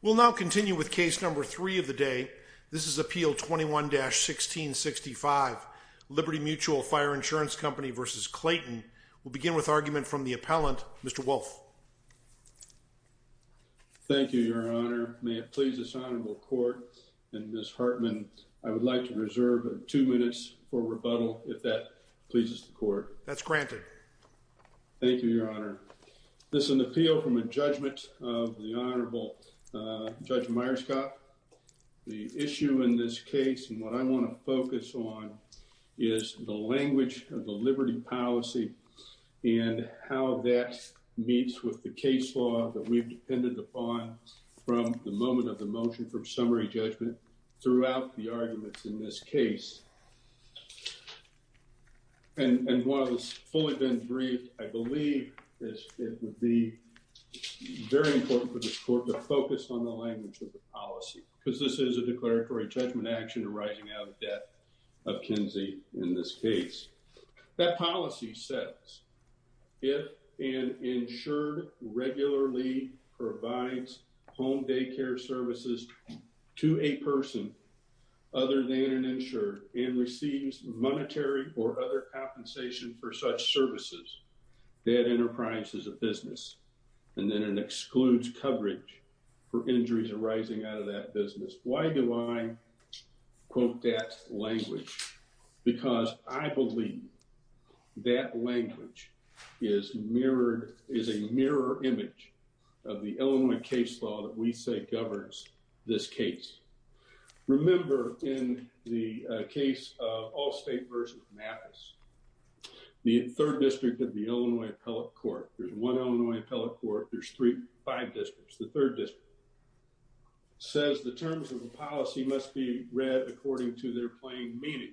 We'll now continue with case number three of the day. This is Appeal 21-1665, Liberty Mutual Fire Insurance Company v. Clayton. We'll begin with argument from the appellant, Mr. Wolf. Thank you, Your Honor. May it please this honorable court and Ms. Hartman, I would like to reserve two minutes for rebuttal, if that pleases the court. That's granted. Thank you, Your Honor. This is an appeal from a judgment of the Honorable Judge Myerscough. The issue in this case, and what I want to focus on, is the language of the liberty policy and how that meets with the case law that we've depended upon from the moment of the motion for summary judgment throughout the arguments in this case. And while it's fully been briefed, I believe it would be very important for this court to focus on the language of the policy, because this is a declaratory judgment action arising out of debt of Kinsey in this case. That policy says, if an insured regularly provides home daycare services to a person other than an insured and receives monetary or other compensation for such services, that enterprise is a business, and then it excludes coverage for injuries arising out of that business. Why do I quote that language? Because I believe that language is a mirror image of the Illinois case law that we say governs this case. Remember, in the case of Allstate v. Mappas, the third district of the Illinois Appellate Court, there's one Illinois Appellate Court, there's five districts. The third district says the terms of the policy must be read according to their plain meaning.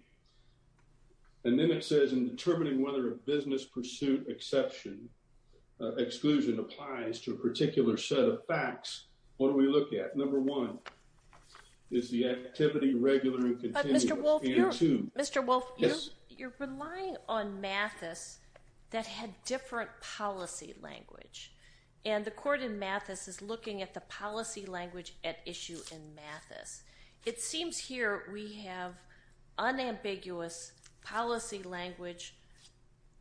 And then it says in determining whether a business pursuit exception, exclusion applies to a particular set of facts, what do we look at? Number one, is the activity regular and continuous. Mr. Wolfe, you're relying on Mappas that had different policy language, and the court in Mappas is looking at the policy language at issue in Mappas. It seems here we have unambiguous policy language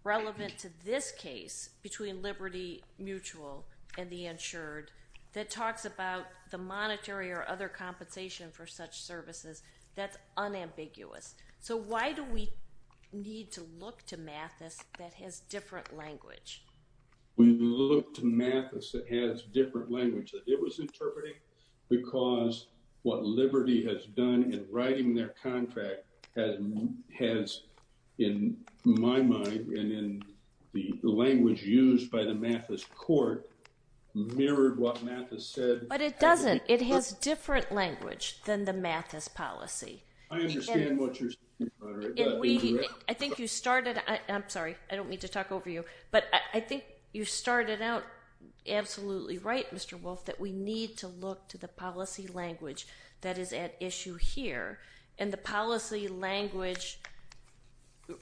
relevant to this case between Liberty Mutual and the insured that talks about the monetary or other compensation for such services. That's unambiguous. So why do we need to look to Mappas that has different language? We look to Mappas that has different language that it was interpreting because what Liberty has done in writing their contract has, in my mind and in the language used by the Mappas court, mirrored what Mappas said. But it doesn't. It has different language than the Mappas policy. I understand what you're saying. I think you started, I'm sorry, I don't mean to talk over you, but I think you started out absolutely right, Mr. Wolfe, that we need to look to the policy language that is at issue here, and the policy language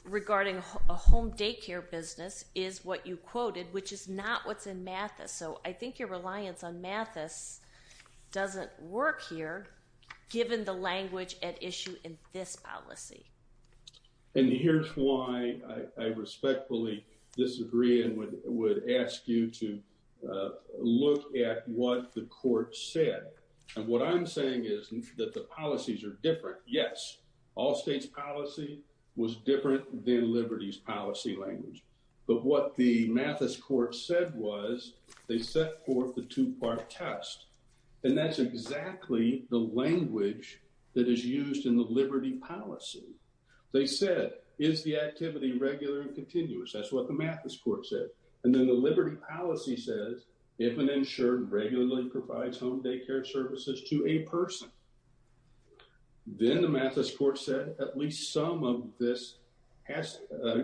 regarding a home daycare business is what you quoted, which is not what's in Mappas. So I think your reliance on Mappas doesn't work here, given the language at issue in this policy. And here's why I respectfully disagree and would ask you to look at what the court said. And what I'm saying is that the policies are different. Yes, all states policy was different than Liberty's policy language. But what the Mappas court said was they set forth the two part test. And that's exactly the language that is used in the Liberty policy. They said, is the activity regular and continuous? That's what the Mappas court said. And then the Liberty policy says, if an insured regularly provides home daycare services to a person, then the Mappas court said at least some of this has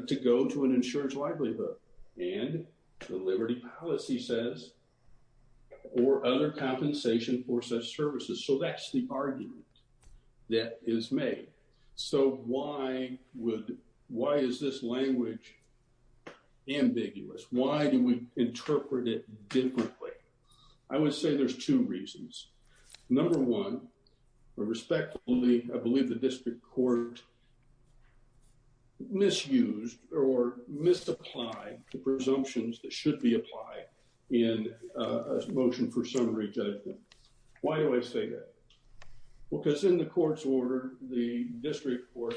to go to an insurance livelihood. And the Liberty policy says, or other compensation for such services. So that's the argument that is made. So why is this language ambiguous? Why do we interpret it differently? I would say there's two reasons. Number one, respectfully, I believe the district court misused or misapplied the presumptions that should be applied in a motion for summary judgment. Why do I say that? Because in the court's order, the district court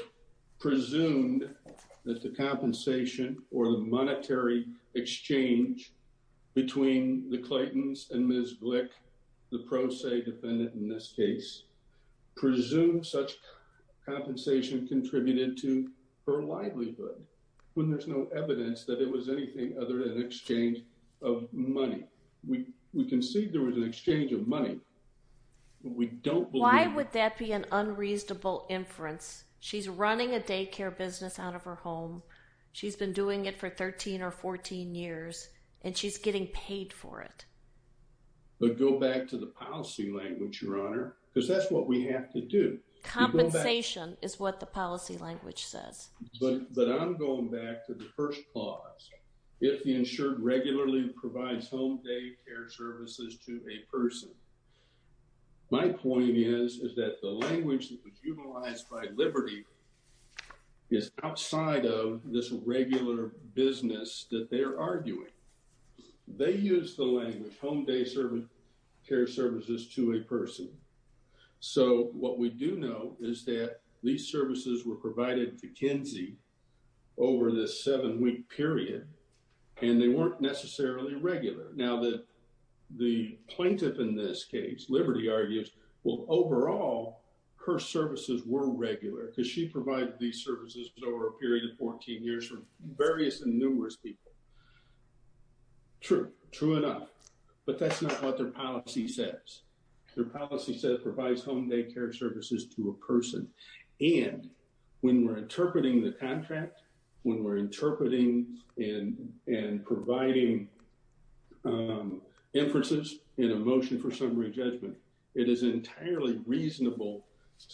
presumed that the compensation or the monetary exchange between the Clayton's and Ms. Glick, the pro se defendant in this case, presumed such compensation contributed to her livelihood when there's no evidence that it was anything other than exchange of money. We can see there was an exchange of money. We don't. Why would that be an unreasonable inference? She's running a daycare business out of her home. She's been doing it for 13 or 14 years and she's getting paid for it. But go back to the policy language, Your Honor, because that's what we have to do. Compensation is what the policy language says. But I'm going back to the first clause. If the insured regularly provides home day care services to a person. My point is, is that the language that was utilized by Liberty is outside of this regular business that they're arguing. They use the language home day service care services to a person. So what we do know is that these services were provided to Kinsey over this seven week period and they weren't necessarily regular. Now that the plaintiff in this case, Liberty argues, well, overall, her services were regular because she provided these services over a period of 14 years from various and numerous people. True, true enough, but that's not what their policy says. Their policy said provides home day care services to a person. And when we're interpreting the contract, when we're interpreting in and providing inferences in a motion for summary judgment, it is entirely reasonable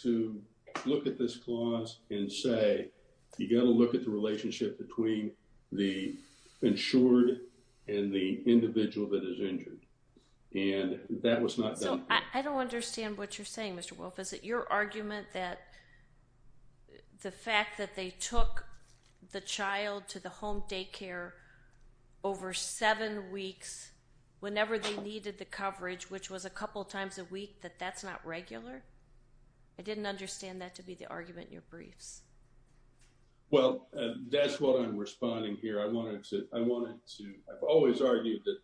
to look at this clause and say, you got to look at the relationship between the insured and the individual that is injured. And that was not done. So I don't understand what you're saying, Mr. Wolf. Is it your argument that the fact that they took the child to the home day care over seven weeks whenever they needed the coverage, which was a couple of times a week, that that's not regular? I didn't understand that to be the argument in your briefs. Well, that's what I'm responding here. I've always argued that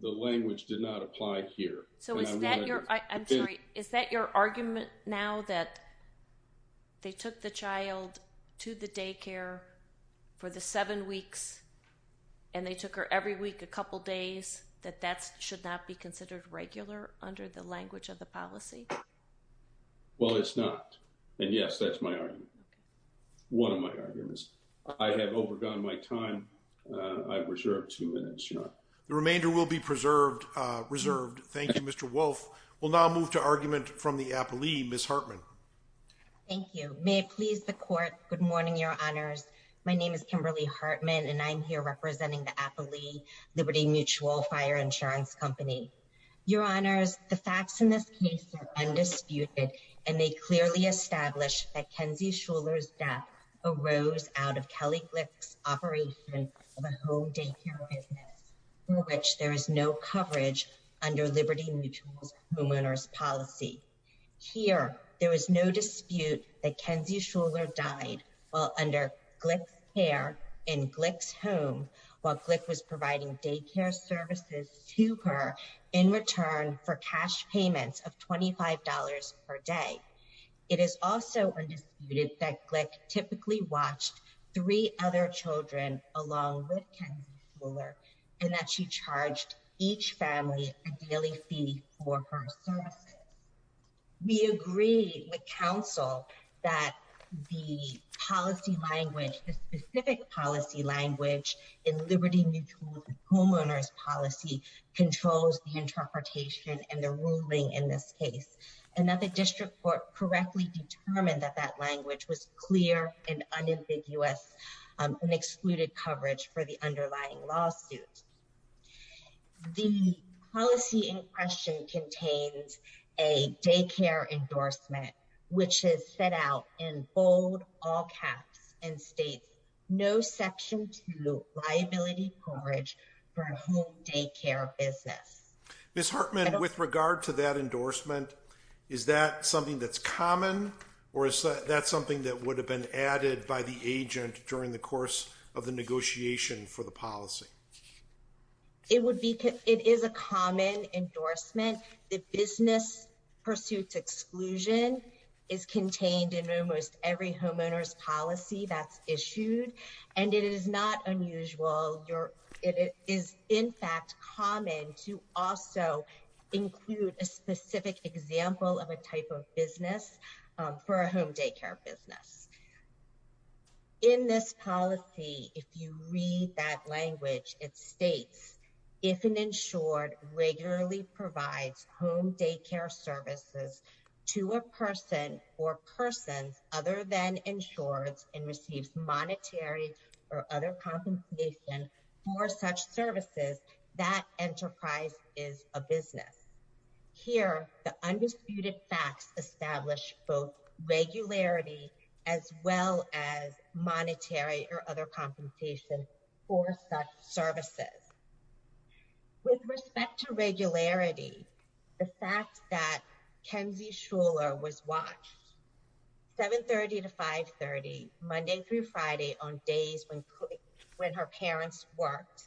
the language did not apply here. So is that your argument now that they took the child to the day care for the seven weeks and they took her every week a couple days, that that should not be considered regular under the language of the policy? Well, it's not. And yes, that's my argument. One of my arguments. I have overgone my time. I've reserved two minutes. The remainder will be preserved. Reserved. Thank you, Mr. Wolf. We'll now move to argument from the Appalee. Ms. Hartman. Thank you. May it please the court. Good morning, Your Honors. My name is Kimberly Hartman, and I'm here representing the Appalee Liberty Mutual Fire Insurance Company. Your Honors, the facts in this case are undisputed, and they clearly establish that Kenzie Shuler's death arose out of Kelly Glick's operation of a home day care business, for which there is no coverage under Liberty Mutual's homeowner's policy. Here, there is no dispute that Kenzie Shuler died while under Glick's care in Glick's home while Glick was providing day care services to her in return for cash payments of $25 per day. It is also undisputed that Glick typically watched three other children along with Kenzie Shuler, and that she charged each family a daily fee for her services. We agree with counsel that the policy language, the specific policy language in Liberty Mutual's homeowner's policy controls the interpretation and the ruling in this case, and that the district court correctly determined that that language was clear and unambiguous and excluded coverage for the underlying lawsuit. The policy in question contains a daycare endorsement, which is set out in bold, all caps, and states no section two liability coverage for a home day care business. Ms. Hartman, with regard to that endorsement, is that something that's common, or is that something that would have been added by the agent during the course of the negotiation for the policy? It is a common endorsement. The business pursuits exclusion is contained in almost every homeowner's policy that's issued, and it is not unusual. It is, in fact, common to also include a specific example of a type of business for a home day care business. In this policy, if you read that language, it states, if an insured regularly provides home day care services to a person or persons other than insured and receives monetary or other compensation for such services, that enterprise is a business. Here, the undisputed facts establish both regularity as well as monetary or other compensation for such services. With respect to regularity, the fact that Kenzie Shuler was watched, 730 to 530, Monday through Friday, on days when her parents worked,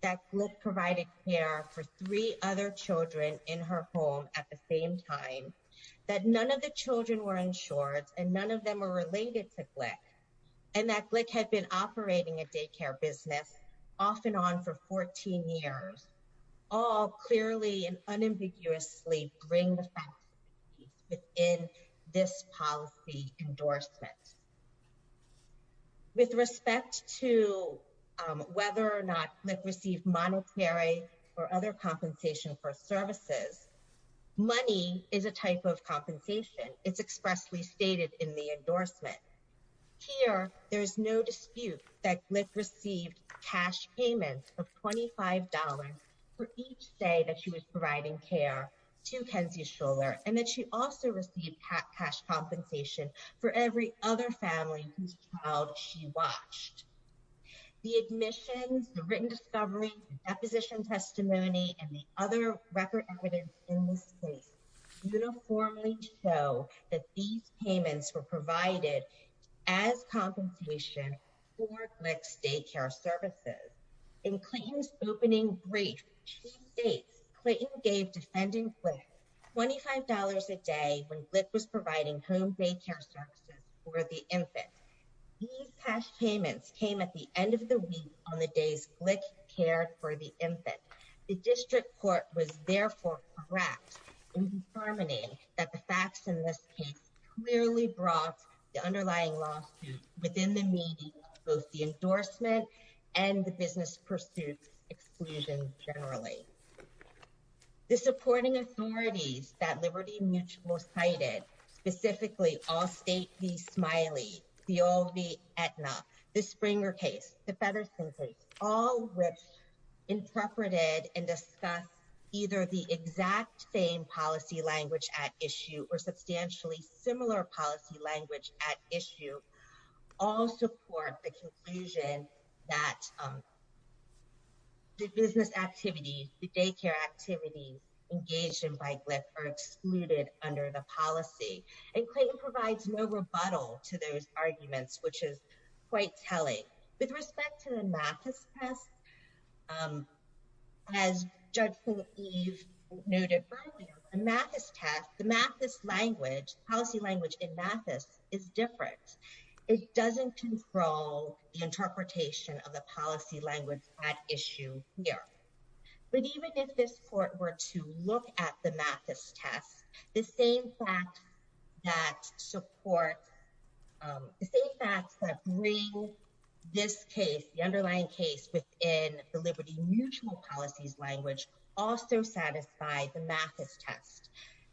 that Glick provided care for three other children in her home at the same time, that none of the children were insured and none of them were related to Glick, and that Glick had been operating a day care business off and on for 14 years, all clearly and unambiguously bring the facts within this policy endorsement. With respect to whether or not Glick received monetary or other compensation for services, money is a type of compensation. It's expressly stated in the endorsement. Here, there's no dispute that Glick received cash payments of $25 for each day that she was providing care to Kenzie Shuler and that she also received cash compensation for every other family whose child she watched. The admissions, the written discovery, the deposition testimony, and the other record evidence in this case uniformly show that these payments were provided as compensation for Glick's day care services. In Clinton's opening brief, she states, Clinton gave defendant Glick $25 a day when Glick was providing home day care services for the infant. These cash payments came at the end of the week on the days Glick cared for the infant. The district court was therefore correct in determining that the facts in this case clearly brought the underlying lawsuit within the meaning of both the endorsement and the business pursuit exclusion generally. The supporting authorities that Liberty Mutual cited, specifically Allstate v. Smiley, Theo v. Aetna, the Springer case, the Featherston case, all which interpreted and discussed either the exact same policy language at issue or substantially similar policy language at issue, all support the conclusion that the business activities, the daycare activities engaged in by Glick are excluded under the policy. And Clinton provides no rebuttal to those arguments, which is quite telling. With respect to the Mathis test, as Judge Philip Eve noted earlier, the Mathis test, the Mathis language, policy language in Mathis is different. It doesn't control the interpretation of the policy language at issue here. But even if this court were to look at the Mathis test, the same facts that support, the same facts that bring this case, the underlying case within the Liberty Mutual policy language also satisfy the Mathis test.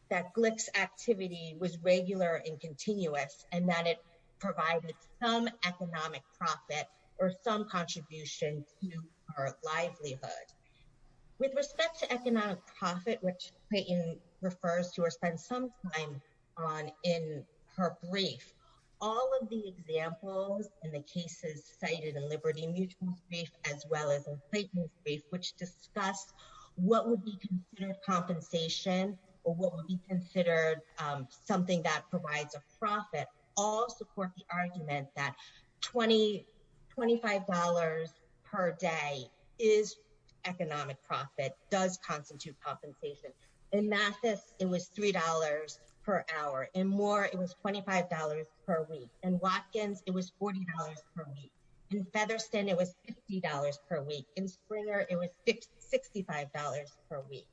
That Glick's activity was regular and continuous and that it provided some economic profit or some contribution to our livelihood. With respect to economic profit, which Clayton refers to or spends some time on in her brief, all of the examples in the cases cited in Liberty Mutual's brief as well as in Clayton's brief, which discuss what would be considered compensation or what would be considered something that provides a profit, all support the argument that $25 per day is economic profit, does constitute compensation. In Mathis, it was $3 per hour. In Moore, it was $25 per week. In Watkins, it was $40 per week. In Featherston, it was $50 per week. In Springer, it was $65 per week.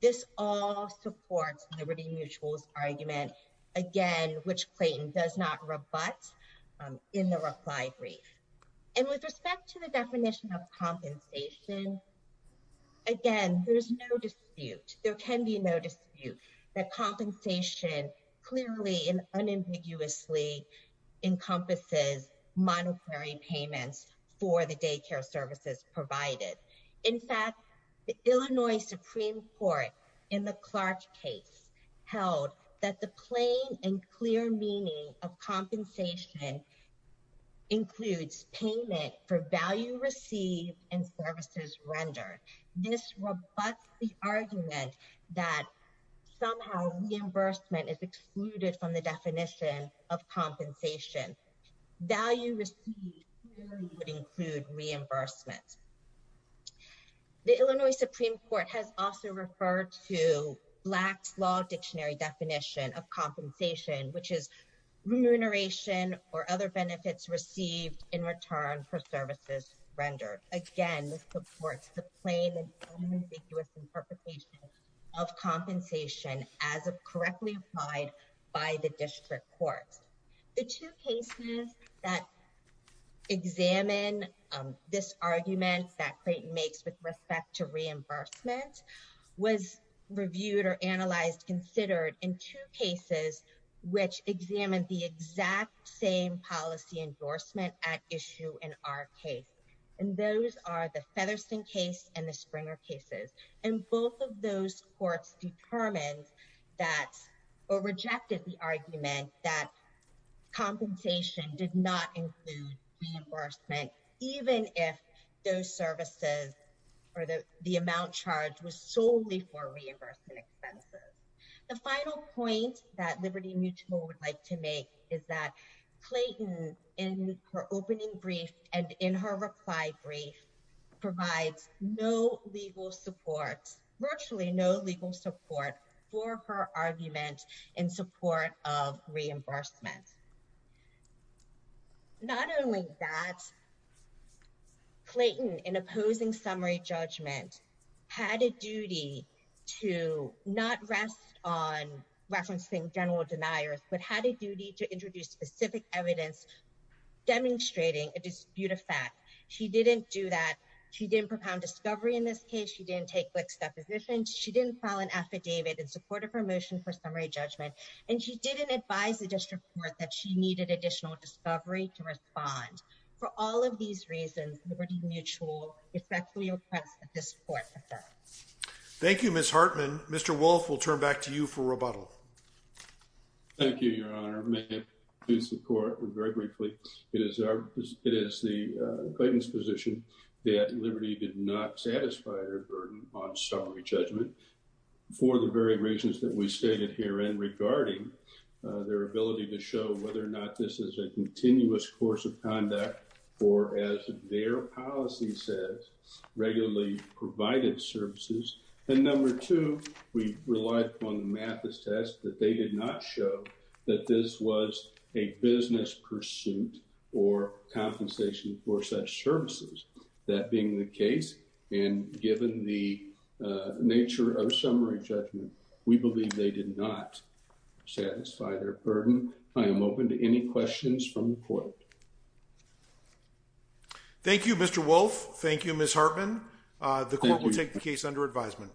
This all supports Liberty Mutual's argument, again, which Clayton does not rebut in the reply brief. With respect to the definition of compensation, again, there's no dispute. There can be no dispute that compensation clearly and unambiguously encompasses monetary payments for the daycare services provided. In fact, the Illinois Supreme Court in the Clark case held that the plain and clear meaning of compensation includes payment for value received and services rendered. This rebuts the argument that somehow reimbursement is excluded from the definition of compensation. Value received clearly would include reimbursement. The Illinois Supreme Court has also referred to Black's law dictionary definition of compensation, which is remuneration or other benefits received in return for services rendered. Again, this supports the plain and unambiguous interpretation of compensation as correctly applied by the district courts. The two cases that examine this argument that Clayton makes with respect to reimbursement was reviewed or analyzed, considered in two cases, which examined the exact same policy endorsement at issue in our case. And those are the Featherston case and the Springer cases. And both of those courts determined that or rejected the argument that compensation did not include reimbursement, even if those services or the amount charged was solely for reimbursement expenses. The final point that Liberty Mutual would like to make is that Clayton, in her opening brief and in her reply brief, provides no legal support, virtually no legal support for her argument in support of reimbursement. Not only that, Clayton, in opposing summary judgment, had a duty to not rest on referencing general deniers, but had a duty to introduce specific evidence demonstrating a dispute of fact. She didn't do that. She didn't propound discovery in this case. She didn't take quick depositions. She didn't file an affidavit in support of her motion for summary judgment. And she didn't advise the district court that she needed additional discovery to respond. For all of these reasons, Liberty Mutual respectfully requests that this court defer. Thank you, Ms. Hartman. Mr. Wolfe, we'll turn back to you for rebuttal. Thank you, Your Honor. May I introduce the court very briefly? It is the Clayton's position that Liberty did not satisfy her burden on summary judgment for the very reasons that we stated herein regarding their ability to show whether or not this is a continuous course of conduct or, as their policy says, regularly provided services. And number two, we relied upon the Mathis test that they did not show that this was a business pursuit or compensation for such services. That being the case, and given the nature of summary judgment, we believe they did not satisfy their burden. I am open to any questions from the court. Thank you, Mr. Wolfe. Thank you, Ms. Hartman. The court will take the case under advisement.